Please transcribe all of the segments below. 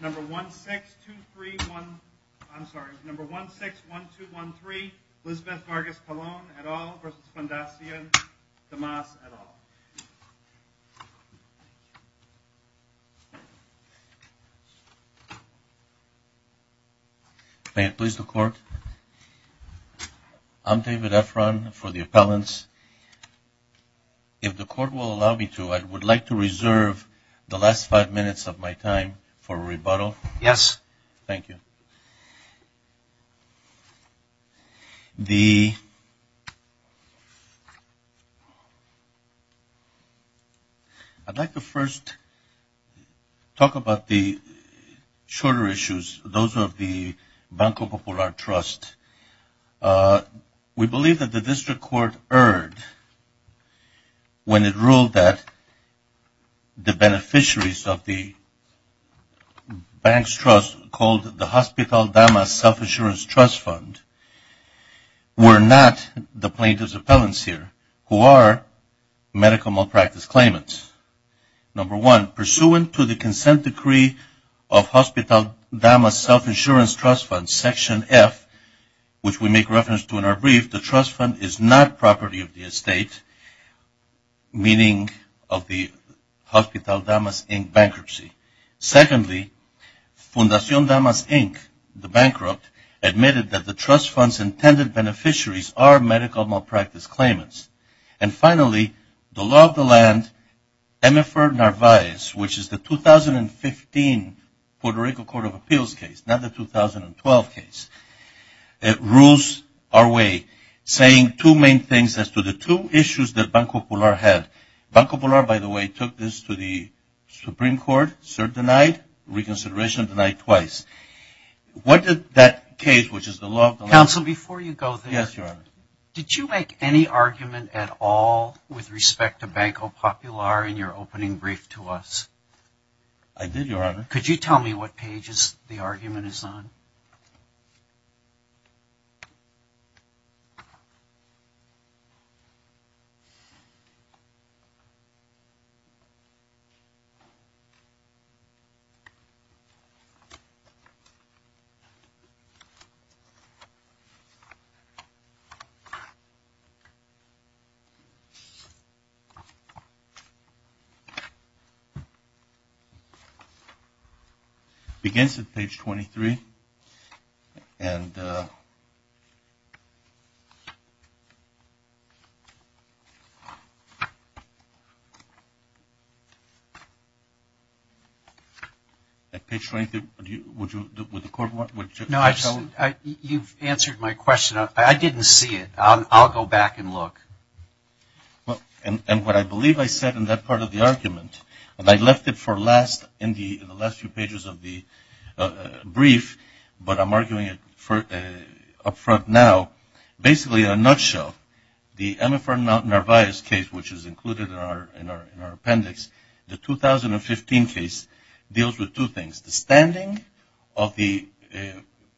161213 Elizabeth Vargas-Colon, et al. v. Fundacion Damas, et al. for a rebuttal? Yes. Thank you. I'd like to first talk about the shorter issues, those of the Banco Popular Trust. We believe that the district court erred when it ruled that the beneficiaries of the bank's trust, called the Hospital Damas Self-Insurance Trust Fund, were not the plaintiffs' appellants here, who are medical malpractice claimants. Number one, pursuant to the consent decree of Hospital Damas Self-Insurance Trust Fund, Section F, which we make reference to in our brief, the trust fund is not property of the Hospital Damas, Inc. bankruptcy. Secondly, Fundacion Damas, Inc., the bankrupt, admitted that the trust fund's intended beneficiaries are medical malpractice claimants. And finally, the law of the land, Emifer Narvaez, which is the 2015 Puerto Rico Court of Appeals case, not the 2012 case, rules our way, saying two main things as to the two issues that Banco Popular, by the way, took this to the Supreme Court, served denied, reconsideration denied twice. What did that case, which is the law of the land- Counsel, before you go there- Yes, Your Honor. Did you make any argument at all with respect to Banco Popular in your opening brief to us? I did, Your Honor. Could you tell me what pages the argument is on? It begins at page 23. At page 23, would the court want- No, you've answered my question. I didn't see it. I'll go back and look. And what I believe I said in that part of the argument, and I left it for last in the last few pages of the brief, but I'm arguing it up front now. Basically, in a nutshell, the Emifer Narvaez case, which is included in our appendix, the 2015 case, deals with two things. The standing of the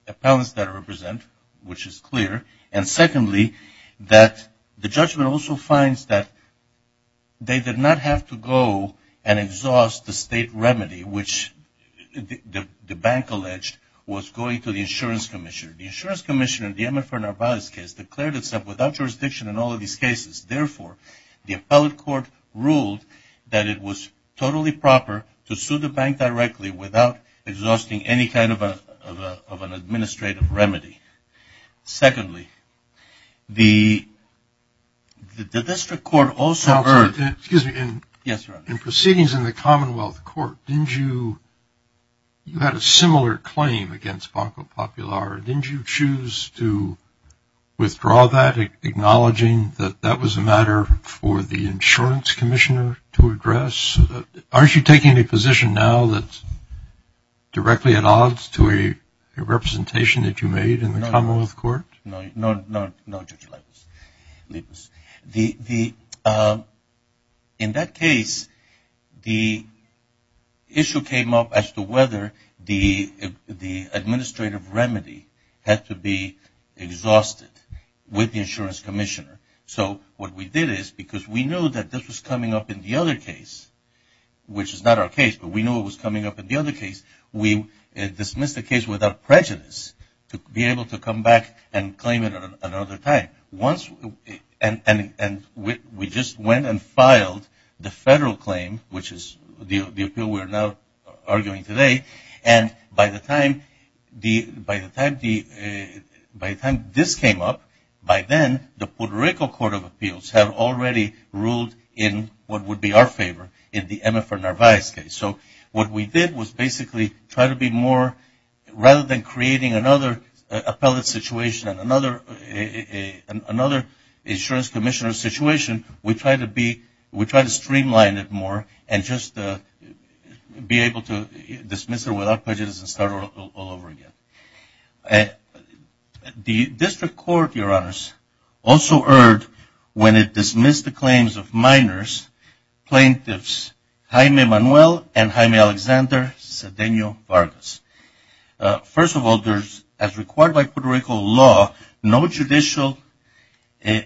appellants that I represent, which is clear, and secondly, that the judgment also finds that they did not have to go and exhaust the state remedy, which the bank alleged was going to the insurance commissioner. The insurance commissioner in the Emifer Narvaez case declared itself without jurisdiction in all of these cases. Therefore, the appellate court ruled that it was totally proper to sue the bank directly without exhausting any kind of an administrative remedy. Secondly, the district court also heard- Excuse me. Yes, Your Honor. In proceedings in the Commonwealth Court, didn't you- you had a similar claim against Banco Popular. Didn't you choose to withdraw that, acknowledging that that was a matter for the insurance commissioner to address? Aren't you taking a position now that's directly at odds to a representation that you made in the Commonwealth Court? No, Judge Leibovitz. In that case, the issue came up as to whether the administrative remedy had to be exhausted with the insurance commissioner. So what we did is, because we knew that this was coming up in the other case, which is not our case, but we knew it was coming up in the other case, we dismissed the case without prejudice to be able to come back and claim it at another time. And we just went and filed the federal claim, which is the appeal we're now arguing today. And by the time this came up, by then, the Puerto Rico Court of Appeals had already ruled in what would be our favor in the Emma for Narvaez case. So what we did was basically try to be more- rather than creating another appellate situation and another insurance commissioner situation, we tried to streamline it more and just be able to dismiss it without prejudice and start all over again. The district court, Your Honors, also erred when it dismissed the claims of minors, plaintiffs Jaime Manuel and Jaime Alexander Cedeño Vargas. First of all, as required by Puerto Rico,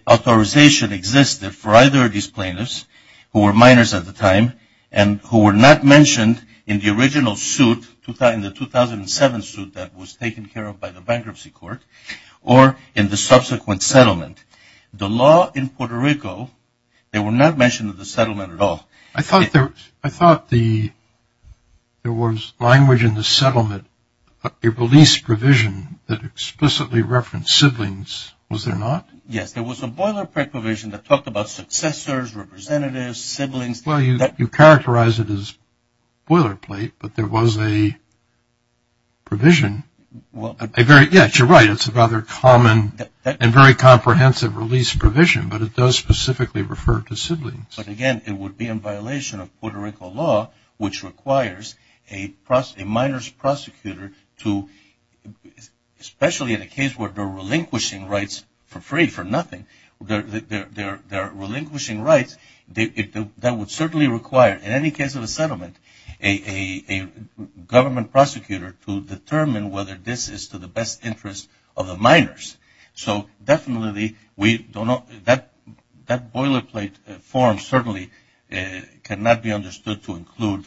authorization existed for either of these plaintiffs, who were minors at the time, and who were not mentioned in the original suit, in the 2007 suit that was taken care of by the bankruptcy court, or in the subsequent settlement. The law in Puerto Rico, they were not mentioned in the settlement at all. I thought there was language in the settlement, a release provision that explicitly referenced siblings. Was there not? Yes, there was a boilerplate provision that talked about successors, representatives, siblings. Well, you characterized it as boilerplate, but there was a provision. Yes, you're right, it's a rather common and very comprehensive release provision, but it does specifically refer to siblings. But again, it would be in violation of Puerto Rico law, which requires a minor's prosecutor to, especially in a case where they're relinquishing rights for free, for nothing, they're relinquishing rights, that would certainly require, in any case of a settlement, a government prosecutor to determine whether this is to the best interest of the minors. So definitely, that boilerplate form certainly cannot be understood to include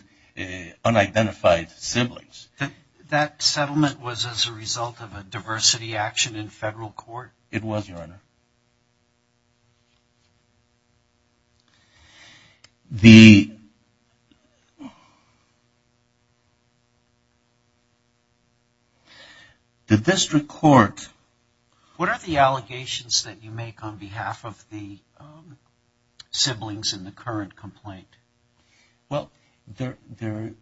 unidentified siblings. That settlement was as a result of a diversity action in federal court? It was, Your Honor. The district court... What are the allegations that you make on behalf of the siblings in the current complaint? Well, the pain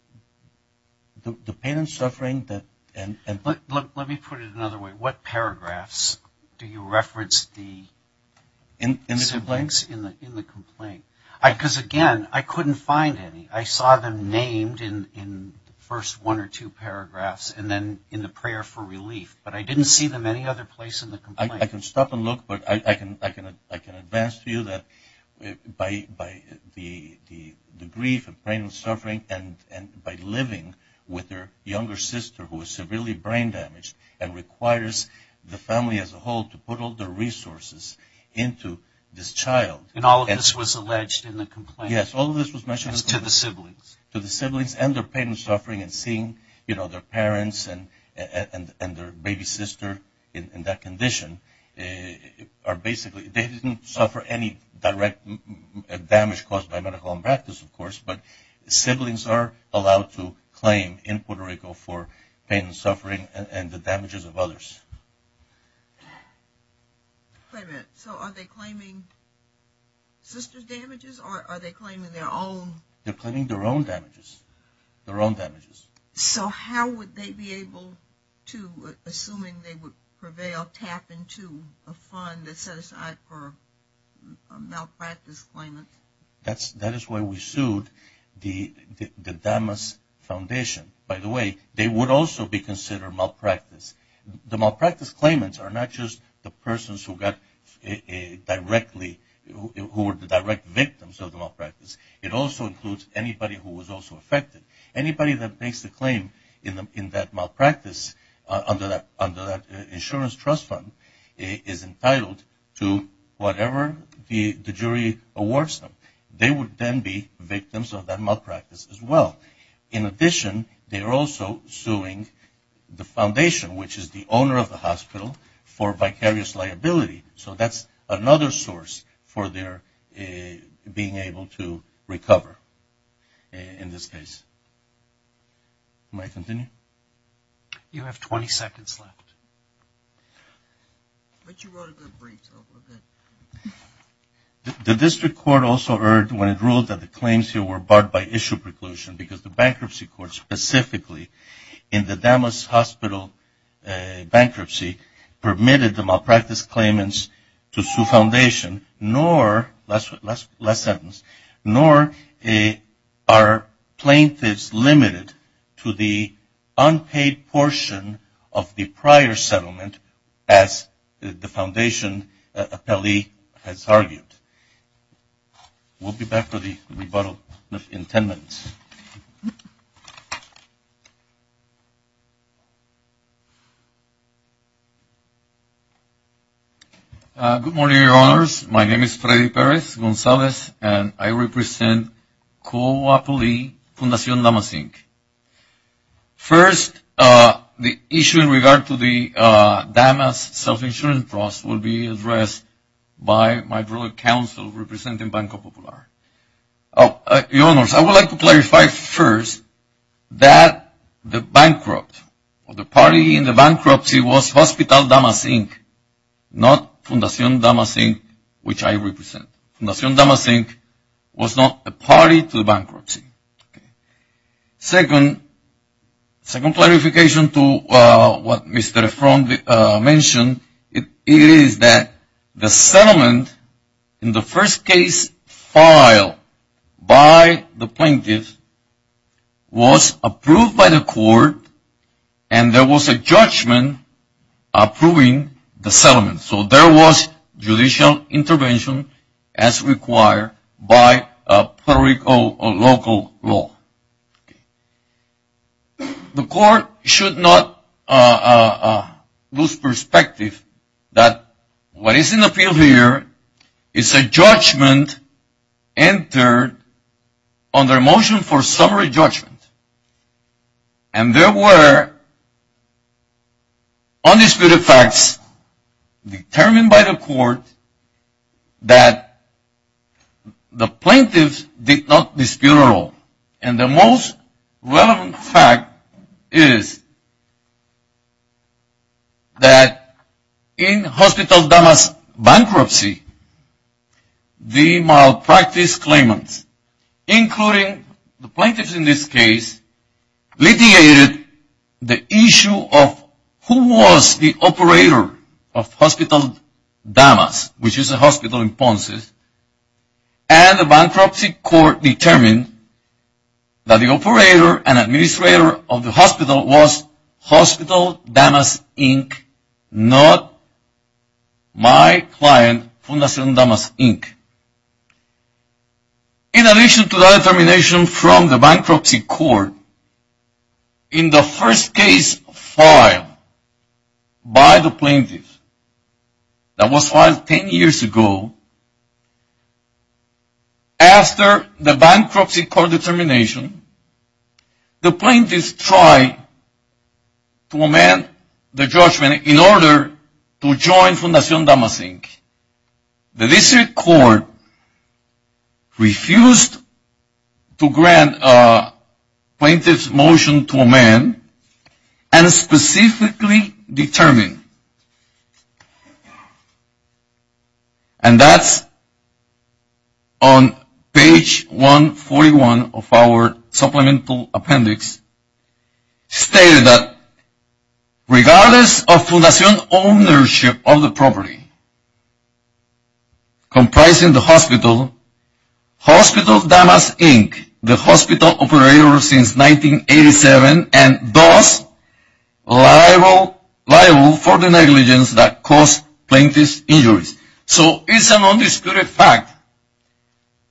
and suffering that... Let me put it another way. What paragraphs do you reference the siblings in the complaint? Because again, I couldn't find any. I saw them named in the first one or two paragraphs and then in the prayer for relief, but I didn't see them any other place in the complaint. I can stop and look, but I can advance to you that by the grief and pain and suffering and by living with their younger sister, who is severely brain damaged and requires the family as a whole to put all their resources into this child... And all of this was alleged in the complaint? Yes, all of this was mentioned... As to the siblings? To the siblings and their pain and suffering and seeing, you know, their parents and their baby sister in that condition are basically... They didn't suffer any direct damage caused by medical malpractice, of course, but siblings are allowed to claim in Puerto Rico for pain and suffering and the damages of others. Wait a minute. So are they claiming sister's damages or are they claiming their own? They're claiming their own damages. Their own damages. So how would they be able to, assuming they would prevail, tap into a fund that set aside for a malpractice claimant? That is why we sued the Damas Foundation. By the way, they would also be considered malpractice. The malpractice claimants are not just the persons who were the direct victims of the malpractice. It also includes anybody who was also affected. Anybody that makes a claim in that malpractice under that insurance trust fund is entitled to whatever the jury awards them. They would then be victims of that malpractice as well. In addition, they are also suing the foundation, which is the owner of the hospital, for vicarious liability. So that's another source for their being able to recover in this case. May I continue? You have 20 seconds left. The district court also erred when it ruled that the claims here were barred by issue preclusion because the bankruptcy court specifically in the Damas Hospital bankruptcy permitted the malpractice claimants to sue foundation, nor are plaintiffs limited to the unpaid portion of the prior settlement as the foundation has argued. We'll be back with the rebuttal in 10 minutes. Good morning, Your Honors. My name is Freddy Perez-Gonzalez, and I represent COAPLI, Fundacion Damas Inc. First, the issue in regard to the Damas self-insurance trust will be addressed by my brother, Counsel, representing Banco Popular. Your Honors, I would like to clarify first that the bankrupt or the party in the bankruptcy was Hospital Damas Inc., not Fundacion Damas Inc., which I represent. Fundacion Damas Inc. was not a party to the bankruptcy. Second, second clarification to what Mr. Efron mentioned, it is that the settlement in the first case file by the plaintiffs was approved by the court and there was a judgment approving the settlement. So there was judicial intervention as required by a local law. The court should not lose perspective that what is in the field here is a judgment entered under a motion for summary judgment. And there were undisputed facts determined by the court that the plaintiffs did not dispute at all. And the most relevant fact is that in Hospital Damas bankruptcy, the malpractice claimants, including the plaintiffs in this case, litigated the issue of who was the operator of Hospital Damas, which is a hospital in Ponce, and the bankruptcy court determined that the operator and administrator of the hospital was Hospital Damas Inc., not my client, Fundacion Damas Inc. In addition to that determination from the bankruptcy court, in the first case file by the plaintiffs that was filed ten years ago, after the bankruptcy court determination, the plaintiffs tried to amend the judgment in order to join Fundacion Damas Inc. The district court refused to grant a plaintiff's motion to amend and specifically determine, and that's on page 141 of our supplemental appendix, stated that regardless of Fundacion's ownership of the property comprising the hospital, Hospital Damas Inc., the hospital operator since 1987, and thus liable for the negligence that caused plaintiff's injuries. So it's an undisputed fact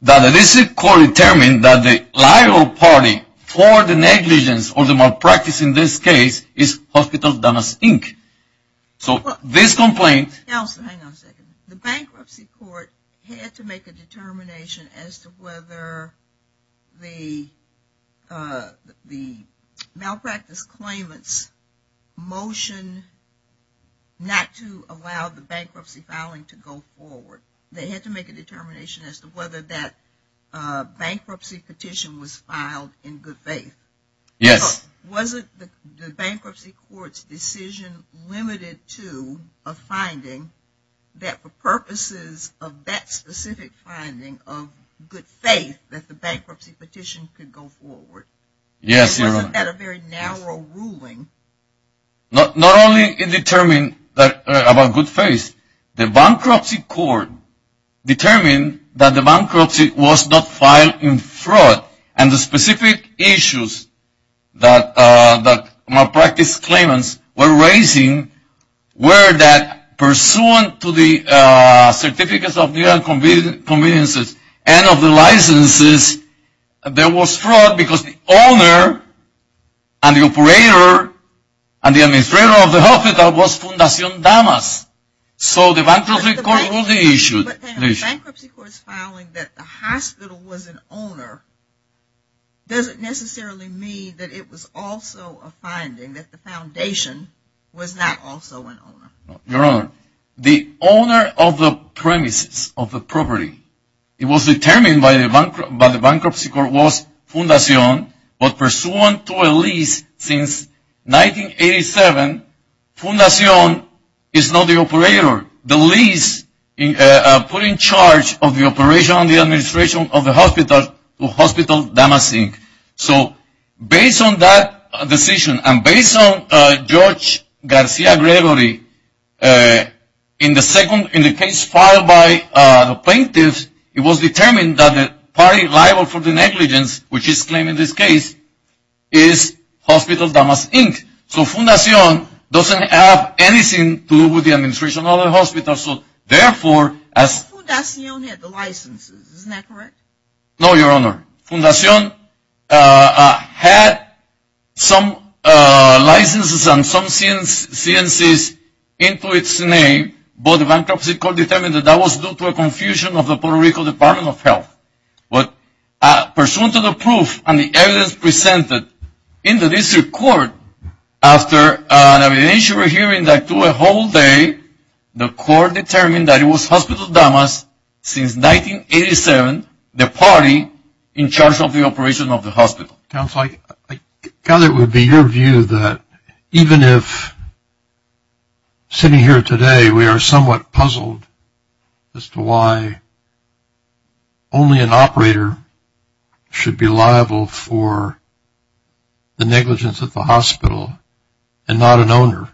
that the district court determined that the liable party for the negligence or the malpractice in this case is Hospital Damas Inc. So this complaint... The bankruptcy court had to make a determination as to whether the malpractice claimants motion not to allow the bankruptcy filing to go forward. They had to make a determination as to whether that bankruptcy petition was filed in good faith. Yes. Wasn't the bankruptcy court's decision limited to a finding that for purposes of that specific finding of good faith that the bankruptcy petition could go forward? Yes, Your Honor. Wasn't that a very narrow ruling? Not only did it determine about good faith, the bankruptcy court determined that the bankruptcy was not filed in fraud. And the specific issues that malpractice claimants were raising were that pursuant to the certificates of legal conveniences and of the licenses, there was fraud because the owner and the operator and the administrator of the hospital was Fundacion Damas. So the bankruptcy court only issued... But the bankruptcy court's filing that the hospital was an owner doesn't necessarily mean that it was also a finding, that the foundation was not also an owner. Your Honor, the owner of the premises of the property, it was determined by the bankruptcy court was Fundacion, but pursuant to a lease since 1987, Fundacion is not the operator. The lease put in charge of the operation of the administration of the hospital to Hospital Damas Inc. So based on that decision and based on Judge Garcia Gregory, in the case filed by the plaintiffs, it was determined that the party liable for the negligence, which is claimed in this case, is Hospital Damas Inc. So Fundacion doesn't have anything to do with the administration of the hospital, so therefore... But Fundacion had the licenses, isn't that correct? No, Your Honor. Fundacion had some licenses and some CNCs into its name, but the bankruptcy court determined that that was due to a confusion of the Puerto Rico Department of Health. But pursuant to the proof and the evidence presented in the district court, after an evidentiary hearing that took a whole day, the court determined that it was Hospital Damas, since 1987, the party in charge of the operation of the hospital. Counsel, I gather it would be your view that even if sitting here today we are somewhat puzzled as to why only an operator should be liable for the negligence at the hospital and not an owner,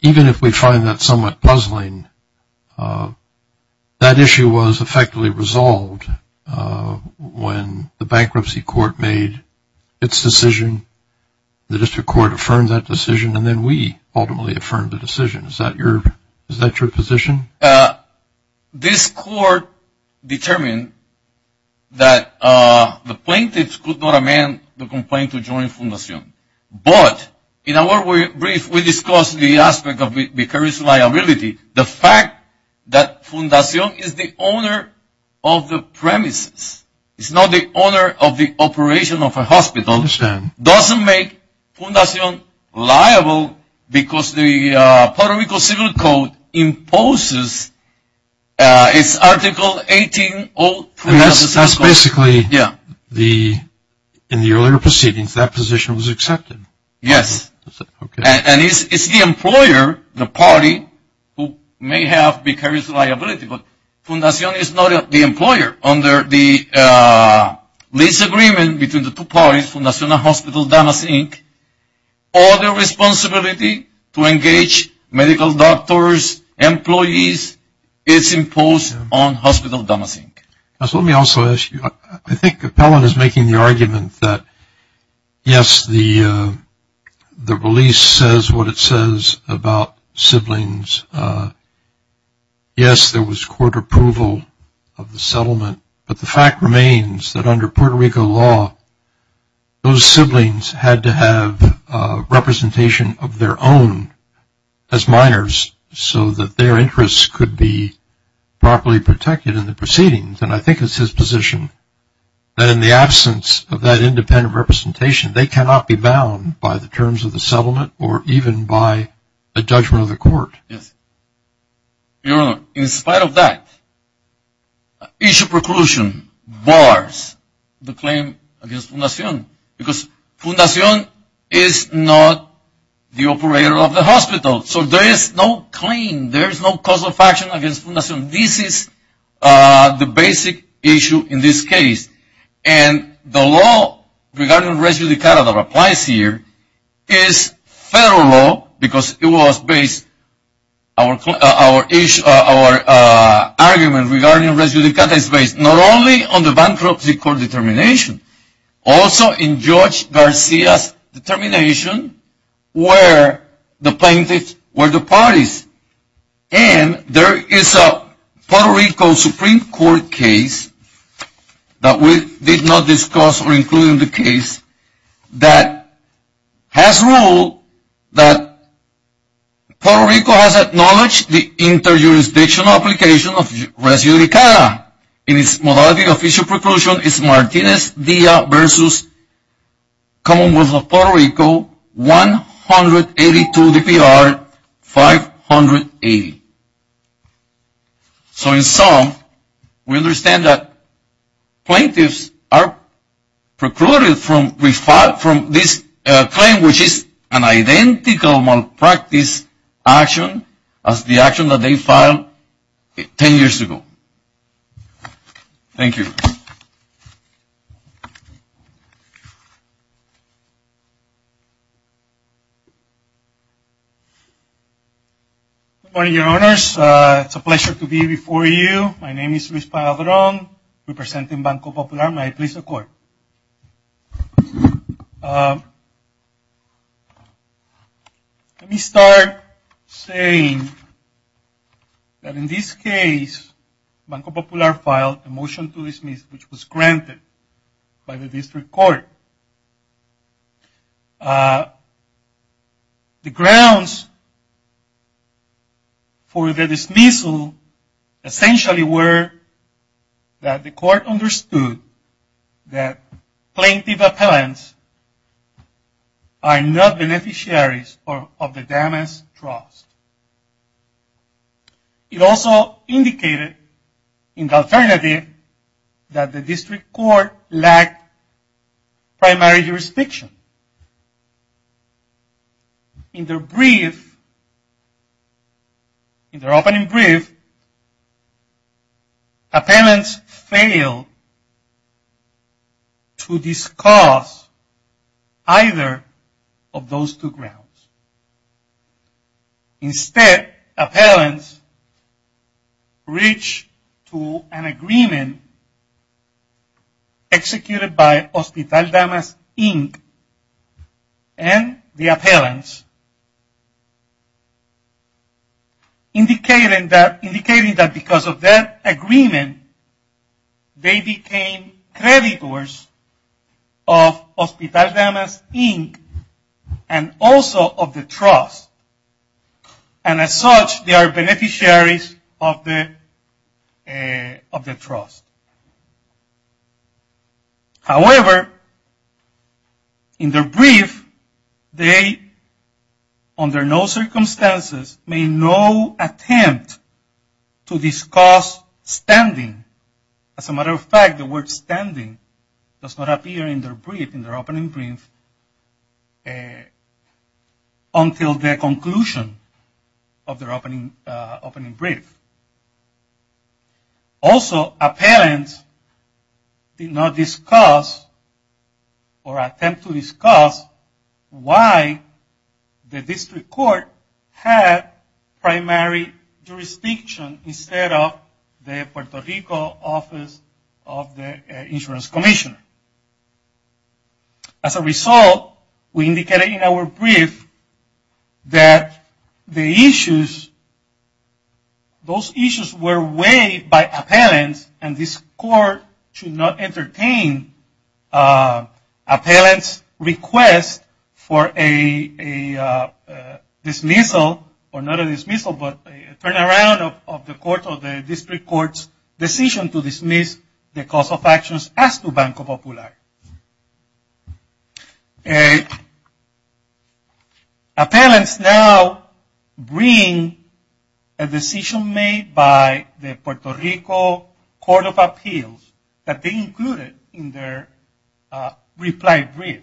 even if we find that somewhat puzzling, that issue was effectively resolved when the bankruptcy court made its decision, the district court affirmed that decision, and then we ultimately affirmed the decision. Is that your position? This court determined that the plaintiffs could not amend the complaint to join Fundacion. But, in our brief, we discussed the aspect of vicarious liability. The fact that Fundacion is the owner of the premises, is not the owner of the operation of a hospital, doesn't make Fundacion liable because the Puerto Rico Civil Code imposes its Article 18. And that's basically, in the earlier proceedings, that position was accepted. Yes. And it's the employer, the party, who may have vicarious liability, but Fundacion is not the employer. Under the lease agreement between the two parties, Fundacion and Hospital Damas Inc., all the responsibility to engage medical doctors, employees, is imposed on Hospital Damas Inc. Let me also ask you, I think Appellant is making the argument that, yes, the release says what it says about siblings. Yes, there was court approval of the settlement. But the fact remains that, under Puerto Rico law, those siblings had to have representation of their own as minors, so that their interests could be properly protected in the proceedings. And I think it's his position that, in the absence of that independent representation, they cannot be bound by the terms of the settlement or even by a judgment of the court. Yes. Your Honor, in spite of that, issue preclusion bars the claim against Fundacion because Fundacion is not the operator of the hospital. So, there is no claim, there is no cause of action against Fundacion. This is the basic issue in this case. And the law regarding res judicata that applies here is federal law because our argument regarding res judicata is based not only on the bankruptcy court determination, also in Judge Garcia's determination where the plaintiffs were the parties. And there is a Puerto Rico Supreme Court case that we did not discuss or include in the case that has ruled that Puerto Rico has acknowledged the inter-jurisdictional application of res judicata. And in its modality of issue preclusion is Martinez-Dia versus Commonwealth of Puerto Rico 182 DPR 580. So, in sum, we understand that plaintiffs are precluded from this claim, which is an identical malpractice action as the action that they filed 10 years ago. Thank you. Good morning, Your Honors. It's a pleasure to be before you. My name is Luis Padron, representing Banco Popular. May I please record? Let me start saying that in this case Banco Popular filed a motion to dismiss, which was granted by the district court. The grounds for the dismissal essentially were that the court understood that plaintiff appellants are not beneficiaries of the damaged trust. It also indicated in the alternative that the district court lacked primary jurisdiction. In their brief, in their opening brief, appellants failed to discuss either of those two grounds. Instead, appellants reached to an agreement executed by Hospital Damas, Inc. and the appellants, indicating that because of that agreement, they became creditors of Hospital Damas, Inc. and also of the trust. And as such, they are beneficiaries of the trust. However, in their brief, they, under no circumstances, made no attempt to discuss standing. As a matter of fact, the word standing does not appear in their brief, in their opening brief, until their conclusion of their opening brief. Also, appellants did not discuss or attempt to discuss why the district court had primary jurisdiction instead of the Puerto Rico office of the insurance commissioner. As a result, we indicated in our brief that those issues were weighed by appellants and this court should not entertain appellants' request for a dismissal, or not a dismissal, but a turnaround of the district court's decision to dismiss the cause of actions as to Banco Popular. Appellants now bring a decision made by the Puerto Rico Court of Appeals that they included in their reply brief.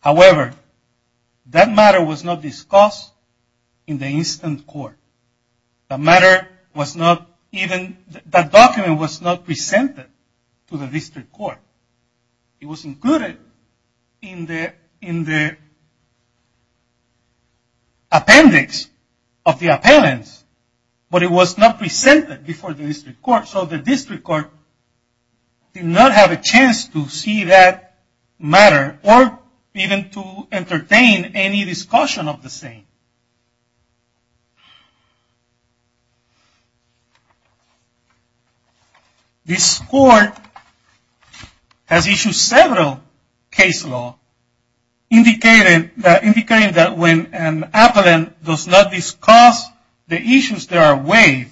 However, that matter was not discussed in the instant court. That matter was not even, that document was not presented to the district court. It was included in the appendix of the appellants, but it was not presented before the district court, so the district court did not have a chance to see that matter, or even to entertain any discussion of the same. This court has issued several case laws, indicating that when an appellant does not discuss the issues that are weighed,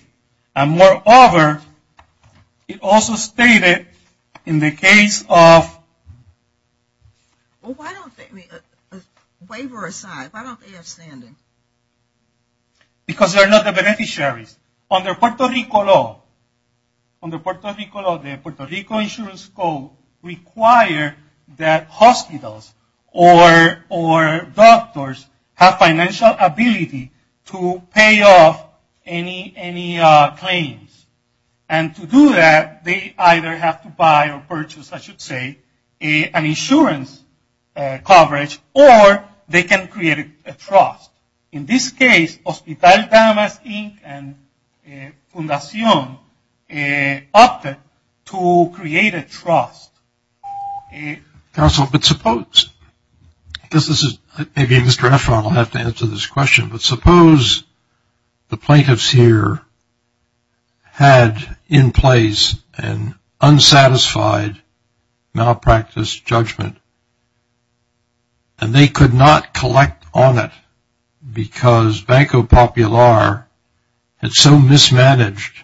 and moreover, it also stated in the case of, well why don't they, waiver aside, why don't they have standing? Because they're not the beneficiaries. Under Puerto Rico law, under Puerto Rico law, the Puerto Rico insurance code require that hospitals or doctors have financial ability to pay off any claims. And to do that, they either have to buy or purchase, I should say, an insurance coverage, or they can create a trust. In this case, Hospital Damas Inc. and Fundacion opted to create a trust. Counsel, but suppose, I guess this is, maybe Mr. Efron will have to answer this question, but suppose the plaintiffs here had in place an unsatisfied malpractice judgment, and they could not collect on it because Banco Popular had so mismanaged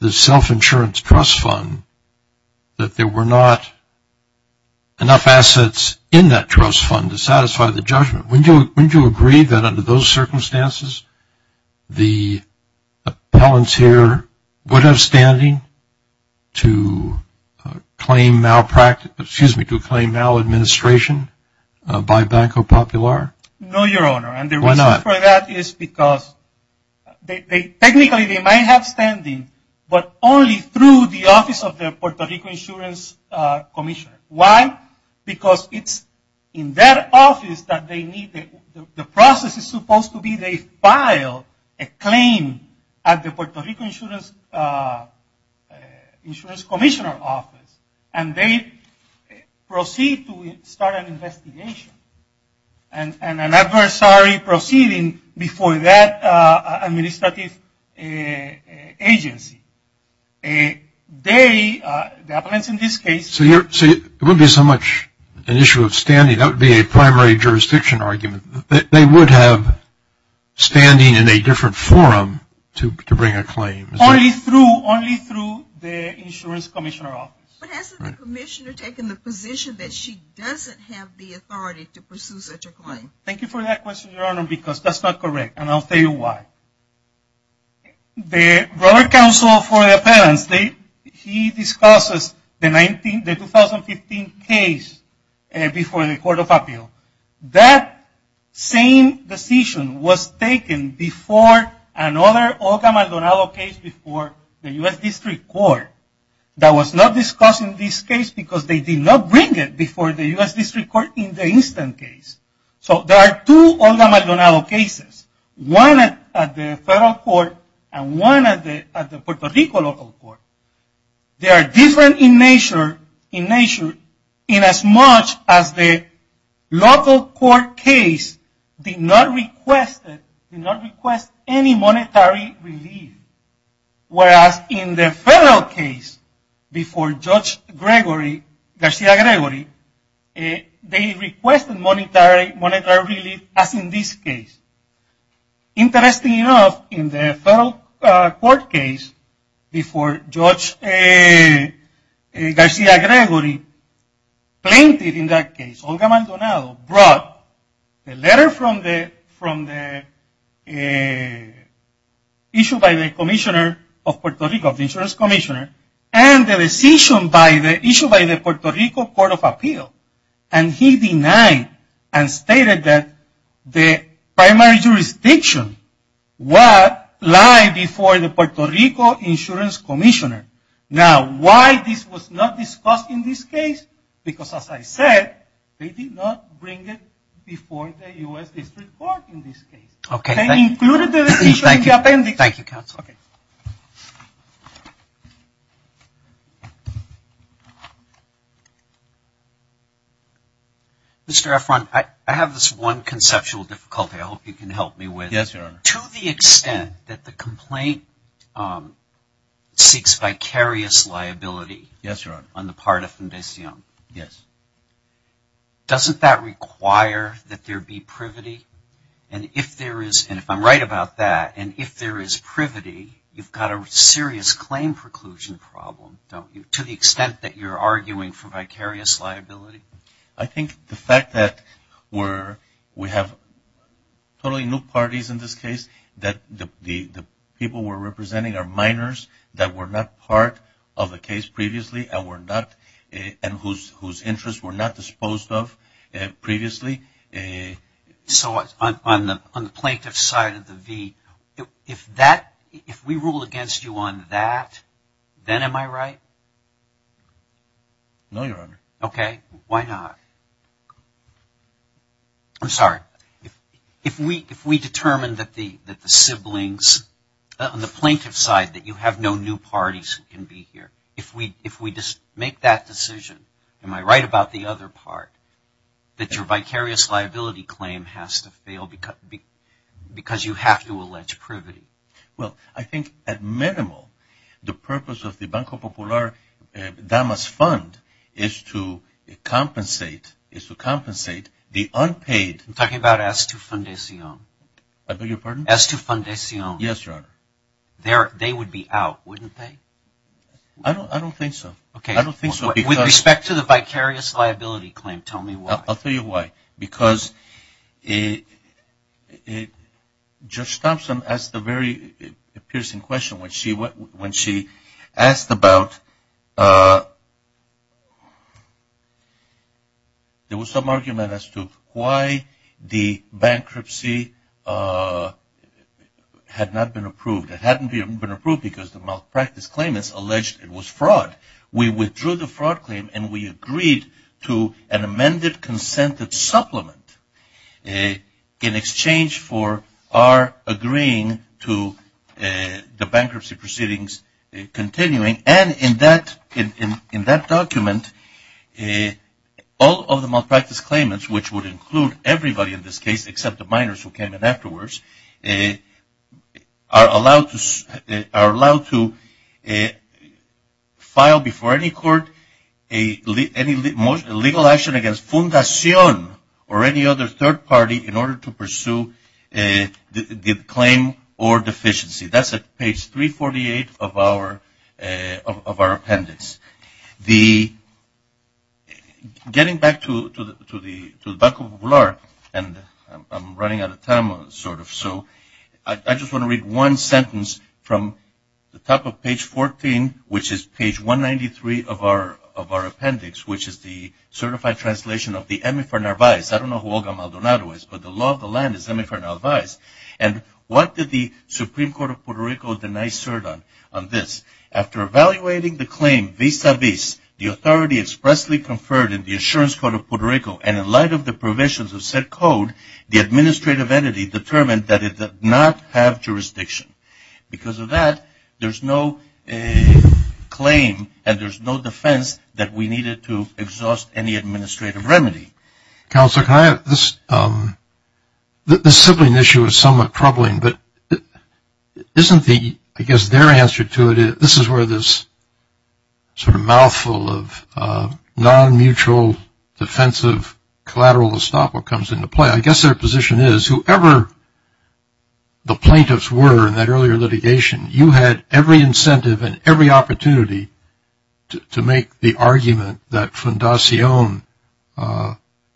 the self-insurance trust fund that there were not enough assets in that trust fund to satisfy the judgment. Wouldn't you agree that under those circumstances, the appellants here would have standing to claim malpractice, excuse me, to claim maladministration by Banco Popular? No, Your Honor. Why not? And the reason for that is because technically they might have standing, but only through the office of the Puerto Rico Insurance Commission. Why? Because it's in their office that they need, the process is supposed to be that they file a claim at the Puerto Rico Insurance Commissioner office, and they proceed to start an investigation, and an adversary proceeding before that administrative agency. They, the appellants in this case. So it wouldn't be so much an issue of standing, that would be a primary jurisdiction argument, that they would have standing in a different forum to bring a claim. Only through the insurance commissioner office. But hasn't the commissioner taken the position that she doesn't have the authority to pursue such a claim? Thank you for that question, Your Honor, because that's not correct, and I'll tell you why. The Robert Counsel for the Appellants, he discusses the 2015 case before the Court of Appeal. That same decision was taken before another Olga Maldonado case before the U.S. District Court. That was not discussed in this case because they did not bring it before the U.S. District Court in the instant case. So there are two Olga Maldonado cases. One at the federal court, and one at the Puerto Rico local court. They are different in nature in as much as the local court case did not request any monetary relief. Whereas in the federal case before Judge Garcia-Gregory, they requested monetary relief as in this case. Interesting enough, in the federal court case before Judge Garcia-Gregory, plaintiff in that case, Olga Maldonado, brought a letter from the issue by the commissioner of Puerto Rico, the insurance commissioner, and the decision by the issue by the Puerto Rico Court of Appeal. And he denied and stated that the primary jurisdiction lied before the Puerto Rico insurance commissioner. Now, why this was not discussed in this case? Because as I said, they did not bring it before the U.S. District Court in this case. Thank you, Counsel. Mr. Efron, I have this one conceptual difficulty I hope you can help me with. Yes, Your Honor. To the extent that the complaint seeks vicarious liability. Yes, Your Honor. On the part of Fundacion. Yes. Doesn't that require that there be privity? And if there is, and if I'm right about that, and if there is privity, you've got a serious claim preclusion problem, don't you, to the extent that you're arguing for vicarious liability? I think the fact that we have totally new parties in this case, that the people we're representing are minors that were not part of the case previously and whose interests were not disposed of previously. So on the plaintiff's side of the V, if we rule against you on that, then am I right? No, Your Honor. Okay. Why not? I'm sorry. If we determine that the siblings, on the plaintiff's side, that you have no new parties who can be here, if we make that decision, am I right about the other part, that your vicarious liability claim has to fail because you have to allege privity? Well, I think at minimal, the purpose of the Banco Popular, that must fund, is to compensate the unpaid. I'm talking about S2 Fundacion. I beg your pardon? S2 Fundacion. Yes, Your Honor. They would be out, wouldn't they? I don't think so. I don't think so. With respect to the vicarious liability claim, tell me why. I'll tell you why. Because Judge Thompson asked a very piercing question when she asked about, there was some argument as to why the bankruptcy had not been approved. It hadn't been approved because the malpractice claimants alleged it was fraud. We withdrew the fraud claim, and we agreed to an amended consented supplement in exchange for our agreeing to the bankruptcy proceedings continuing. And in that document, all of the malpractice claimants, which would include everybody in this case except the minors who came in afterwards, are allowed to file before any court any legal action against Fundacion or any other third party in order to pursue the claim or deficiency. That's at page 348 of our appendix. Getting back to the Banco Popular, and I'm running out of time sort of, so I just want to read one sentence from the top of page 14, which is page 193 of our appendix, which is the certified translation of the Emefer Narvaez. I don't know who Olga Maldonado is, but the law of the land is Emefer Narvaez. And what did the Supreme Court of Puerto Rico deny cert on? On this. After evaluating the claim vis-a-vis the authority expressly conferred in the Assurance Court of Puerto Rico, and in light of the provisions of said code, the administrative entity determined that it did not have jurisdiction. Because of that, there's no claim, and there's no defense that we needed to exhaust any administrative remedy. Counselor, this sibling issue is somewhat troubling, but isn't the, I guess their answer to it, this is where this sort of mouthful of non-mutual defensive collateral estoppel comes into play. I guess their position is whoever the plaintiffs were in that earlier litigation, you had every incentive and every opportunity to make the argument that you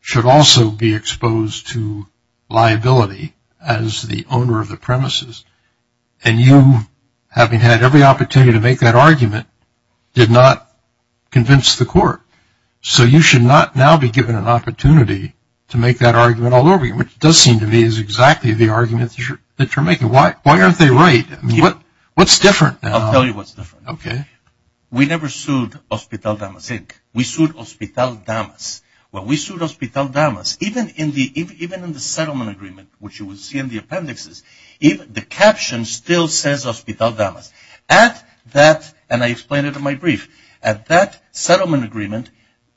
should also be exposed to liability as the owner of the premises. And you, having had every opportunity to make that argument, did not convince the court. So you should not now be given an opportunity to make that argument all over again, which does seem to me is exactly the argument that you're making. Why aren't they right? What's different now? I'll tell you what's different. Okay. We never sued Hospital Damas Inc. We sued Hospital Damas. Well, we sued Hospital Damas. Even in the settlement agreement, which you will see in the appendixes, the caption still says Hospital Damas. At that, and I explained it in my brief, at that settlement agreement,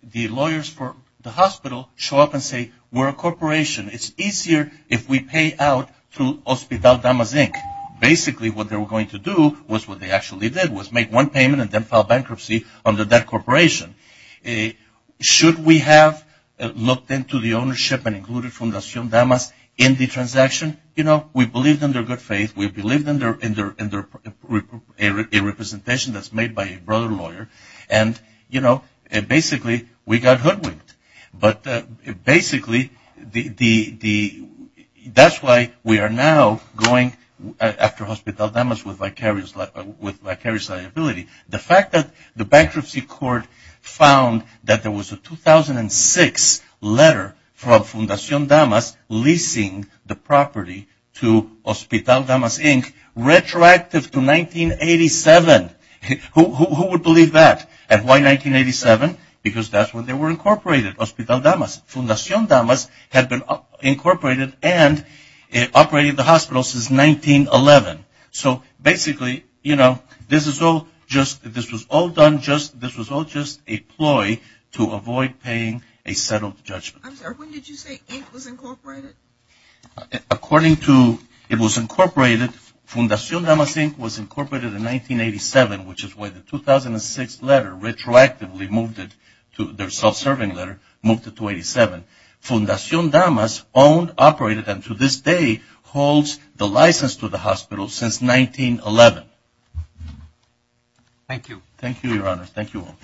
the lawyers for the hospital show up and say, we're a corporation. It's easier if we pay out through Hospital Damas Inc. Basically, what they were going to do was what they actually did, was make one payment and then file bankruptcy under that corporation. Should we have looked into the ownership and included Fundacion Damas in the transaction? You know, we believed in their good faith. We believed in their representation that's made by a brother lawyer. And, you know, basically, we got hoodwinked. But basically, that's why we are now going after Hospital Damas with vicarious liability. The fact that the bankruptcy court found that there was a 2006 letter from Fundacion Damas leasing the property to Hospital Damas Inc. retroactive to 1987. Who would believe that? And why 1987? Because that's when they were incorporated, Hospital Damas. Fundacion Damas had been incorporated and operated the hospital since 1911. So basically, you know, this was all just a ploy to avoid paying a settled judgment. I'm sorry, when did you say Inc. was incorporated? According to it was incorporated, Fundacion Damas Inc. was incorporated in 1987, which is why the 2006 letter retroactively moved it to their self-serving letter, moved it to 87. Fundacion Damas owned, operated, and to this day holds the license to the hospital since 1911. Thank you. Thank you, Your Honors. Thank you all.